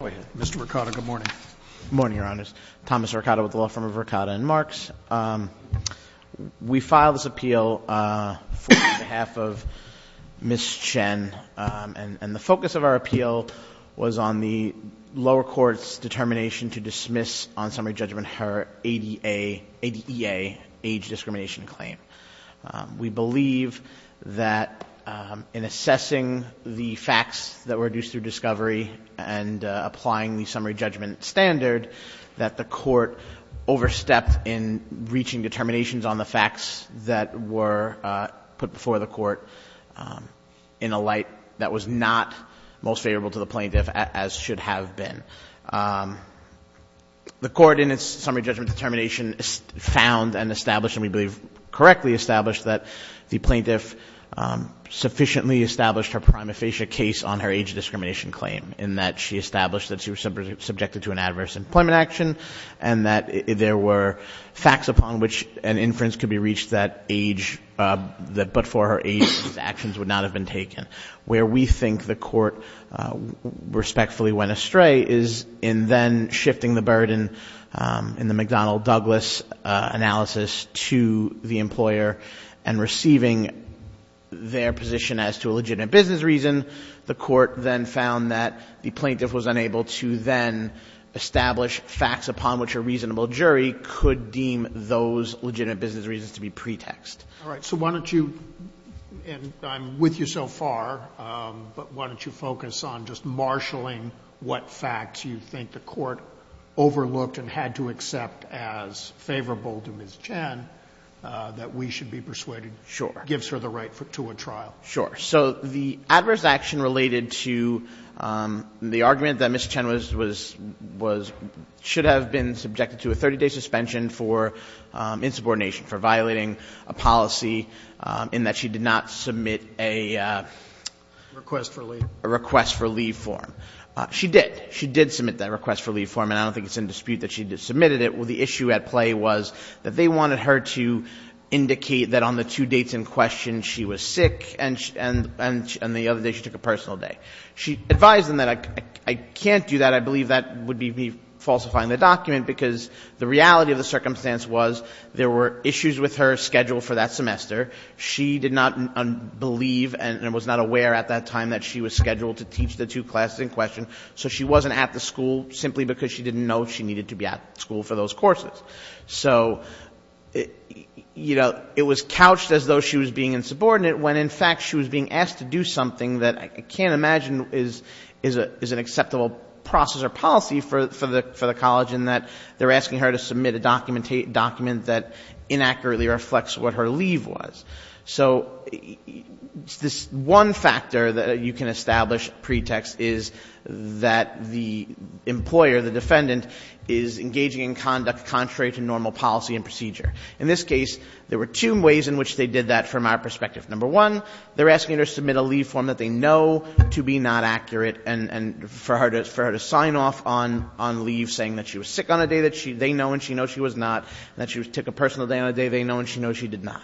Thomas Ricotta with the Law Firm of Ricotta and Marks. We filed this appeal on behalf of Ms. Chen and the focus of our appeal was on the lower court's determination to dismiss on summary judgment her ADA age discrimination claim. We believe that in assessing the facts that were reduced through discovery and applying the summary judgment standard that the court overstepped in reaching determinations on the facts that were put before the court in a light that was not most favorable to the plaintiff as should have been. The court in its summary judgment determination found and established and we believe correctly established that the plaintiff sufficiently established her prima facie case on her age discrimination claim in that she established that she was subjected to an adverse employment action and that there were facts upon which an inference could be reached that age, that but for her age, actions would not have been taken. Where we think the court respectfully went astray is in then shifting the burden in the McDonnell-Douglas analysis to the employer and receiving their position as to a legitimate business reason. The court then found that the plaintiff was unable to then establish facts upon which a reasonable jury could deem those legitimate business reasons to be pretext. All right, so why don't you, and I'm with you so far, but why don't you focus on just marshaling what facts you think the court overlooked and had to accept as favorable to Ms. Chen that we should be persuaded gives her the right to a trial. Sure. So the adverse action related to the argument that Ms. Chen should have been subjected to a 30-day suspension for insubordination, for violating a policy in that she did not submit a request for leave form. She did. She did submit that request for leave form, and I don't think it's in dispute that she submitted it. The issue at play was that they wanted her to indicate that on the two dates in question she was sick and the other day she took a personal day. She advised them that I can't do that. I believe that would be falsifying the document because the reality of the circumstance was there were issues with her schedule for that semester. She did not believe and was not aware at that time that she was scheduled to teach the two classes in question, so she wasn't at the school simply because she didn't know she needed to be at school for those courses. So, you know, it was couched as though she was being insubordinate when in fact she was being asked to do something that I can't imagine is an acceptable process or policy for the college in that they're asking her to submit a document that inaccurately reflects what her leave was. So this one factor that you can establish pretext is that the employer, the defendant, is engaging in conduct contrary to normal policy and procedure. In this case, there were two ways in which they did that from our perspective. Number one, they're asking her to submit a leave form that they know to be not accurate and for her to sign off on leave saying that she was sick on a day that they know and she knows she was not and that she took a personal day on a day they know and she knows she did not.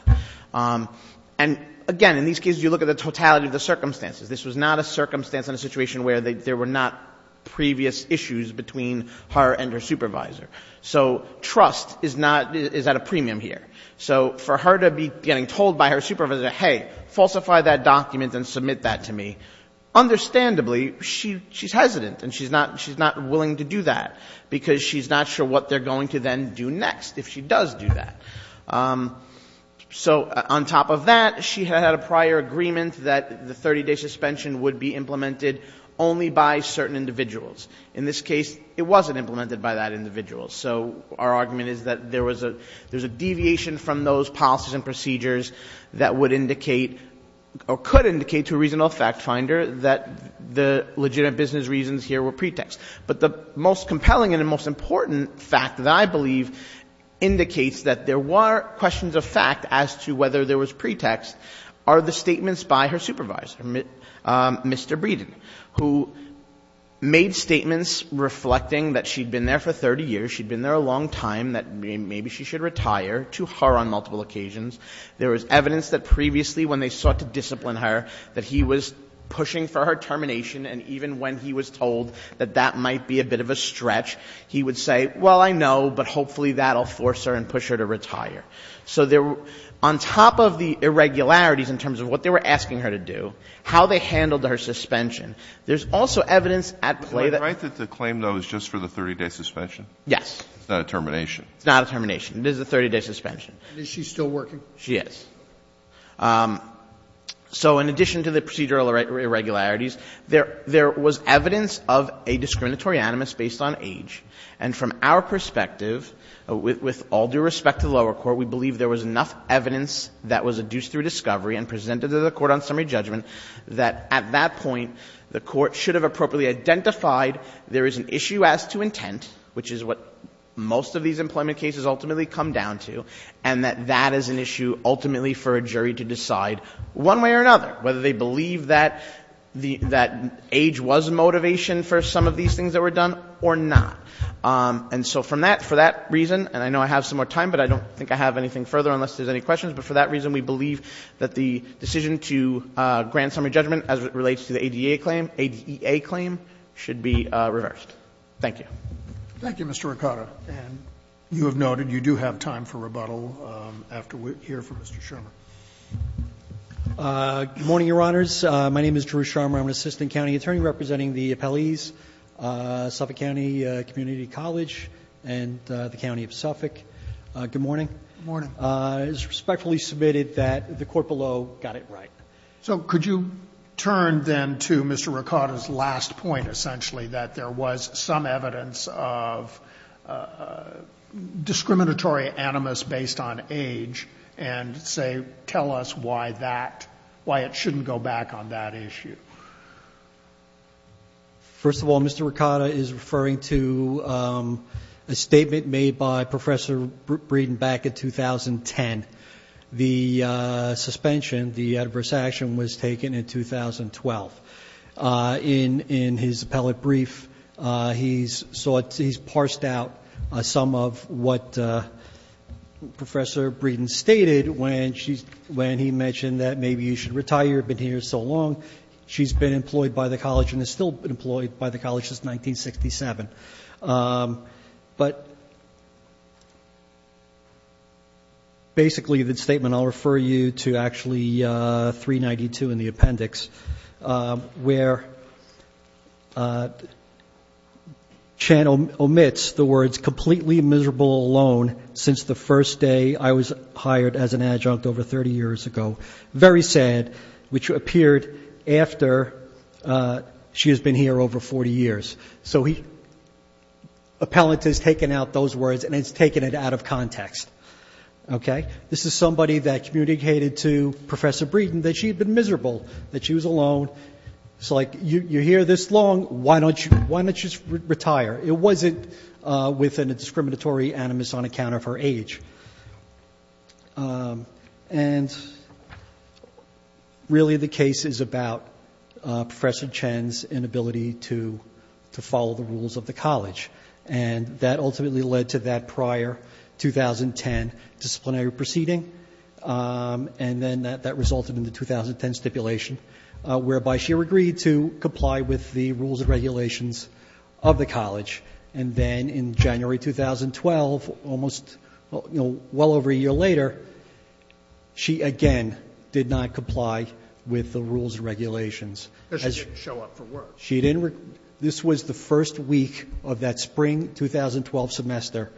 And, again, in these cases, you look at the totality of the circumstances. This was not a circumstance and a situation where there were not previous issues between her and her supervisor. So trust is not at a premium here. So for her to be getting told by her supervisor, hey, falsify that document and submit that to me, understandably, she's hesitant and she's not willing to do that because she's not sure what they're going to then do next if she does do that. So on top of that, she had a prior agreement that the 30-day suspension would be implemented only by certain individuals. In this case, it wasn't implemented by that individual. So our argument is that there was a deviation from those policies and procedures that would indicate or could indicate to a reasonable fact finder that the legitimate business reasons here were pretext. But the most compelling and the most important fact that I believe indicates that there were questions of fact as to whether there was pretext are the statements by her supervisor, Mr. Breeden, who made statements reflecting that she'd been there for 30 years, she'd been there a long time, that maybe she should retire to her on multiple occasions. There was evidence that previously when they sought to discipline her, that he was pushing for her termination. And even when he was told that that might be a bit of a stretch, he would say, well, I know, but hopefully that will force her and push her to retire. So there were — on top of the irregularities in terms of what they were asking her to do, how they handled her suspension, there's also evidence at play that — The right to claim, though, is just for the 30-day suspension? Yes. It's not a termination. It's not a termination. It is a 30-day suspension. And is she still working? She is. So in addition to the procedural irregularities, there was evidence of a discriminatory animus based on age, and from our perspective, with all due respect to the lower court, we believe there was enough evidence that was adduced through discovery and presented to the court on summary judgment that at that point the court should have appropriately identified there is an issue as to intent, which is what most of these employment cases ultimately come down to, and that that is an issue ultimately for a jury to decide one way or another, whether they believe that age was motivation for some of these things that were done or not. And so from that, for that reason, and I know I have some more time, but I don't think I have anything further unless there's any questions, but for that reason, we believe that the decision to grant summary judgment as it relates to the ADA claim, ADA claim, should be reversed. Thank you. Thank you, Mr. Ricotta. And you have noted you do have time for rebuttal after we hear from Mr. Sherman. Good morning, Your Honors. My name is Drew Sherman. I'm an assistant county attorney representing the appellees, Suffolk County Community College and the County of Suffolk. Good morning. Good morning. It is respectfully submitted that the Court below got it right. So could you turn then to Mr. Ricotta's last point, essentially, that there was some evidence of discriminatory animus based on age and say, tell us why that, why it shouldn't go back on that issue? First of all, Mr. Ricotta is referring to a statement made by Professor Breeden back in 2010. The suspension, the adverse action was taken in 2012. In his appellate brief, he's parsed out some of what Professor Breeden stated when he mentioned that maybe you should retire, you've been here so long. She's been employed by the college and is still employed by the college since 1967. But basically the statement, I'll refer you to actually 392 in the appendix, where Chan omits the words, completely miserable alone since the first day I was hired as an adjunct over 30 years ago. Very sad, which appeared after she has been here over 40 years. So he, appellate has taken out those words and has taken it out of context. Okay? This is somebody that communicated to Professor Breeden that she had been miserable, that she was alone. It's like, you're here this long, why don't you, why don't you just retire? It wasn't with a discriminatory animus on account of her age. And really the case is about Professor Chan's inability to follow the rules of the college. And that ultimately led to that prior 2010 disciplinary proceeding. And then that resulted in the 2010 stipulation, whereby she agreed to comply with the rules and regulations of the college. And then in January 2012, almost, you know, well over a year later, she again did not comply with the rules and regulations. Because she didn't show up for work. She didn't. This was the first week of that spring 2012 semester.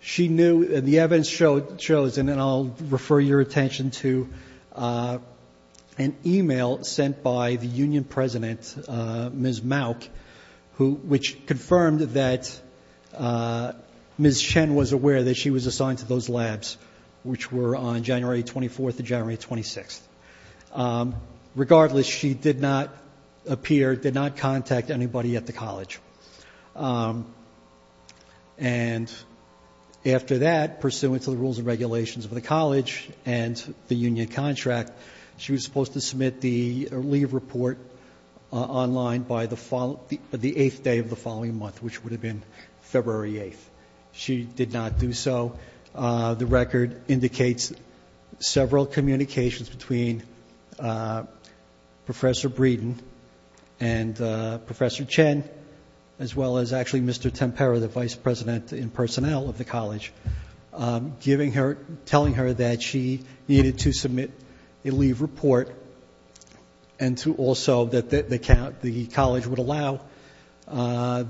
She knew, and the evidence shows, and then I'll refer your attention to an email sent by the union president, Ms. Mauck, who, which confirmed that Ms. Chen was aware that she was assigned to those labs, which were on January 24th and January 26th. Regardless, she did not appear, did not contact anybody at the college. And after that, pursuant to the rules and regulations of the college and the union contract, she was supposed to submit the leave report online by the eighth day of the following month, which would have been February 8th. She did not do so. The record indicates several communications between Professor Breeden and Professor Chen, as well as actually Mr. Tempera, the vice president in personnel of the college, giving her, telling her that she needed to submit a leave report and to also, that the college would allow her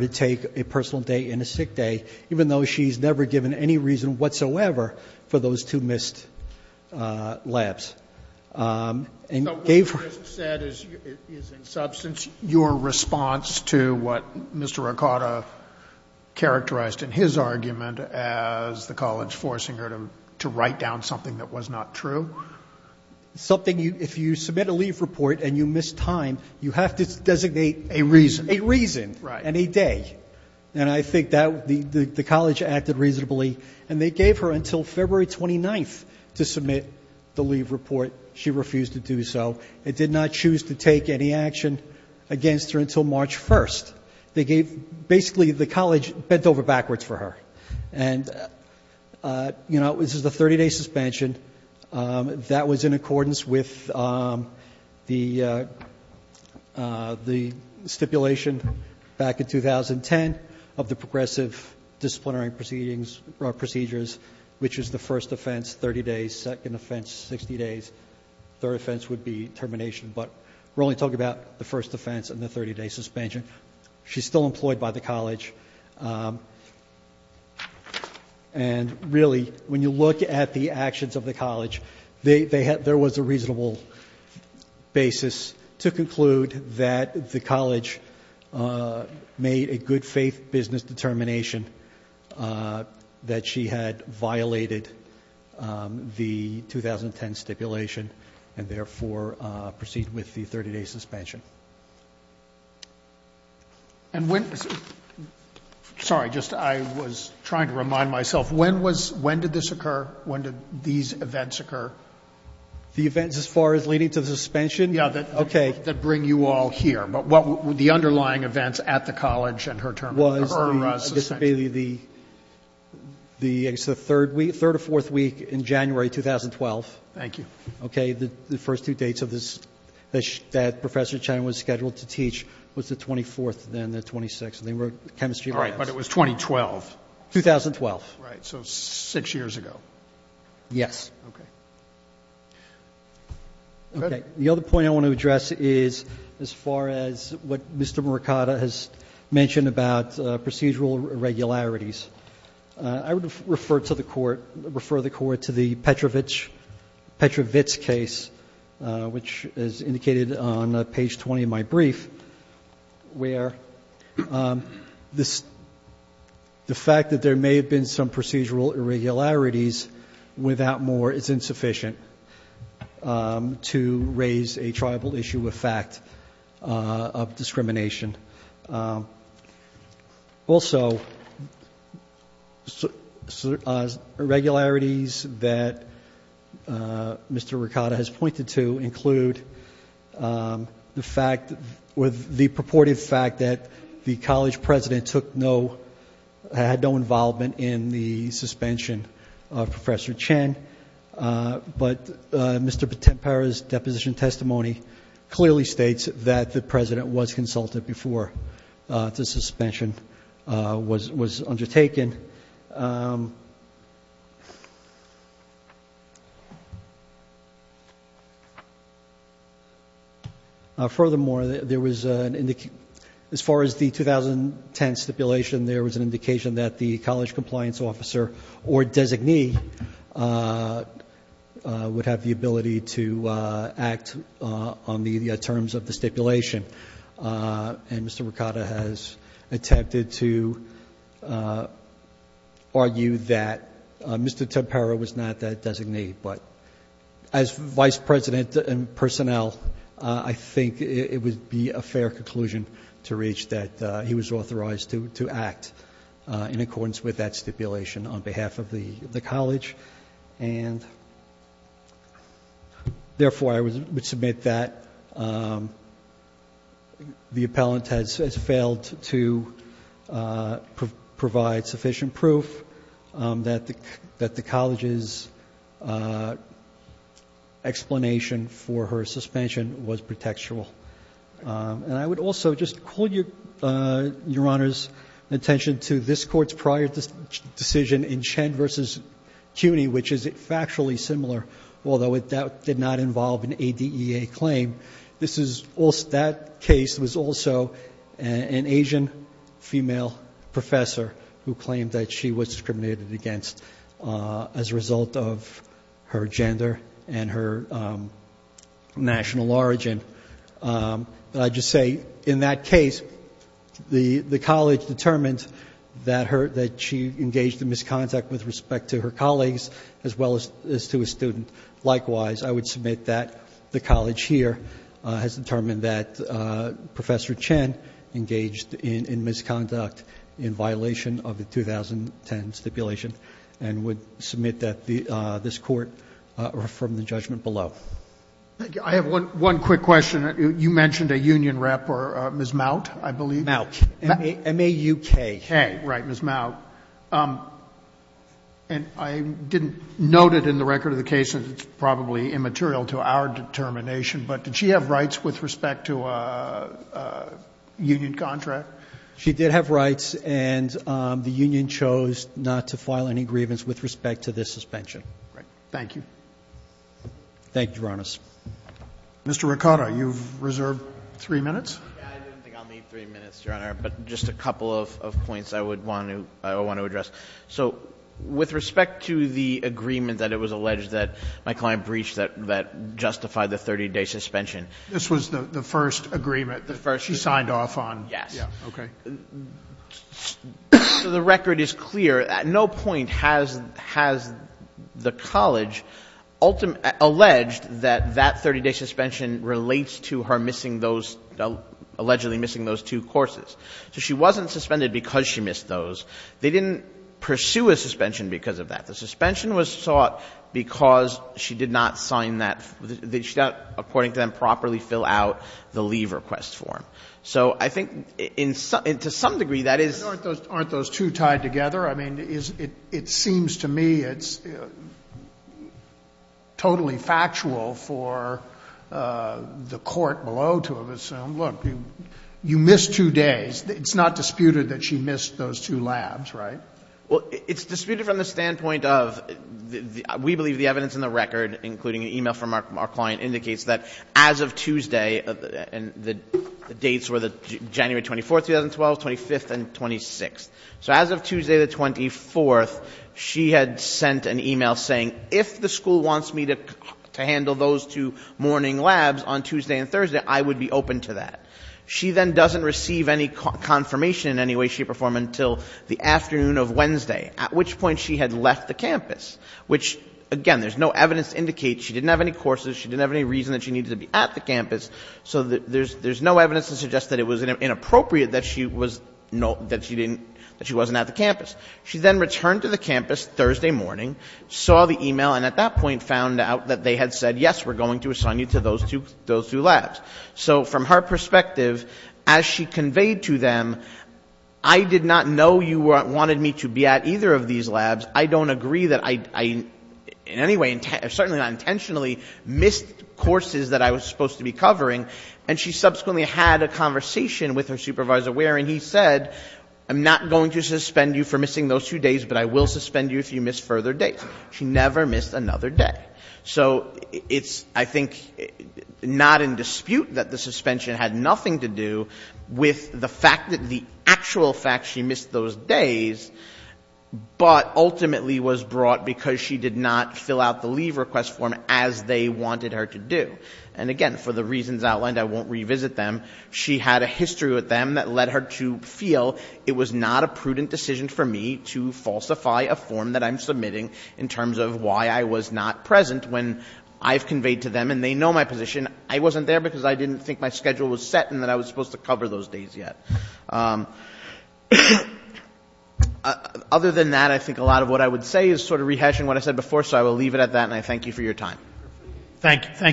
to take a personal day and a sick day, even though she's never given any reason whatsoever for those two missed labs. So what you just said is in substance your response to what Mr. Ricotta characterized in his argument as the college forcing her to write down something that was not true? Something, if you submit a leave report and you miss time, you have to designate a reason and a day. And I think the college acted reasonably. And they gave her until February 29th to submit the leave report. She refused to do so. It did not choose to take any action against her until March 1st. Basically, the college bent over backwards for her. And, you know, this is the 30-day suspension. That was in accordance with the stipulation back in 2010 of the progressive disciplinary procedures, which is the first offense, 30 days, second offense, 60 days, third offense would be termination. But we're only talking about the first offense and the 30-day suspension. And, really, when you look at the actions of the college, there was a reasonable basis to conclude that the college made a good faith business determination that she had violated the 2010 stipulation and, therefore, proceed with the 30-day suspension. And when — sorry, just, I was trying to remind myself. When was — when did this occur? When did these events occur? The events as far as leading to the suspension? Yeah, that — Okay. — that bring you all here. But what were the underlying events at the college and her termination — Was the —— or suspension. It's the third week — third or fourth week in January 2012. Thank you. Okay. The first two dates of this — that Professor Chen was scheduled to teach was the 24th and then the 26th. And they were chemistry labs. All right. But it was 2012. 2012. Right. So six years ago. Yes. Okay. Okay. The other point I want to address is as far as what Mr. Mercado has mentioned about procedural irregularities. I would refer to the court — refer the court to the Petrovich — Petrovich case, which is indicated on page 20 of my brief, where the fact that there may have been some procedural irregularities without more is insufficient to raise a tribal issue of fact of discrimination. Also, irregularities that Mr. Mercado has pointed to include the fact — the purported fact that the college president took no — had no involvement in the suspension of Professor Chen. But Mr. Potempara's deposition testimony clearly states that the president was consulted before the suspension was undertaken. Furthermore, there was an — as far as the 2010 stipulation, there was an indication that the college compliance officer or designee would have the ability to act on the terms of the stipulation. And Mr. Mercado has attempted to argue that Mr. Potempara was not that designee. But as vice president and personnel, I think it would be a fair conclusion to reach that he was authorized to act in accordance with that stipulation on behalf of the college. And therefore, I would submit that the appellant has failed to provide sufficient proof that the college's explanation for her suspension was pretextual. And I would also just call Your Honor's attention to this Court's prior decision in Chen v. CUNY, which is factually similar, although it did not involve an ADEA claim. This is — that case was also an Asian female professor who claimed that she was discriminated against as a result of her gender and her national origin. But I just say, in that case, the college determined that she engaged in misconduct with respect to her colleagues as well as to a student. Likewise, I would submit that the college here has determined that Professor Chen engaged in misconduct in violation of the 2010 stipulation and would submit that this Court from the judgment below. I have one quick question. You mentioned a union rep or Ms. Maut, I believe. Maut. M-A-U-K. K. Right, Ms. Maut. And I didn't note it in the record of the case, and it's probably immaterial to our determination, but did she have rights with respect to a union contract? She did have rights, and the union chose not to file any grievance with respect to this suspension. Thank you. Thank you, Your Honor. Mr. Ricotta, you've reserved three minutes. I didn't think I'll need three minutes, Your Honor, but just a couple of points I would want to address. So with respect to the agreement that it was alleged that my client breached that justified the 30-day suspension. This was the first agreement that she signed off on? Yes. Okay. So the record is clear. At no point has the college alleged that that 30-day suspension relates to her missing those, allegedly missing those two courses. So she wasn't suspended because she missed those. They didn't pursue a suspension because of that. The suspension was sought because she did not sign that. She did not, according to them, properly fill out the leave request form. So I think, to some degree, that is. Aren't those two tied together? I mean, it seems to me it's totally factual for the court below to assume, look, you missed two days. It's not disputed that she missed those two labs, right? Well, it's disputed from the standpoint of we believe the evidence in the record, including an email from our client, indicates that as of Tuesday, and the dates were January 24, 2012, 25th, and 26th. So as of Tuesday, the 24th, she had sent an email saying, if the school wants me to handle those two morning labs on Tuesday and Thursday, I would be open to that. She then doesn't receive any confirmation in any way, shape, or form until the afternoon of Wednesday, at which point she had left the campus, which, again, there's no evidence to indicate. She didn't have any courses. She didn't have any reason that she needed to be at the campus. So there's no evidence to suggest that it was inappropriate that she wasn't at the campus. She then returned to the campus Thursday morning, saw the email, and at that point found out that they had said, yes, we're going to assign you to those two labs. So from her perspective, as she conveyed to them, I did not know you wanted me to be at either of these labs. I don't agree that I, in any way, certainly not intentionally, missed courses that I was supposed to be covering. And she subsequently had a conversation with her supervisor where he said, I'm not going to suspend you for missing those two days, but I will suspend you if you miss further dates. She never missed another day. So it's, I think, not in dispute that the suspension had nothing to do with the fact that the actual fact she missed those days, but ultimately was brought because she did not fill out the leave request form as they wanted her to do. And again, for the reasons outlined, I won't revisit them. She had a history with them that led her to feel it was not a prudent decision for me to falsify a form that I'm submitting in terms of why I was not present when I've conveyed to them and they know my position. And I wasn't there because I didn't think my schedule was set and that I was supposed to cover those days yet. Other than that, I think a lot of what I would say is sort of rehashing what I said before, so I will leave it at that and I thank you for your time. Thank you.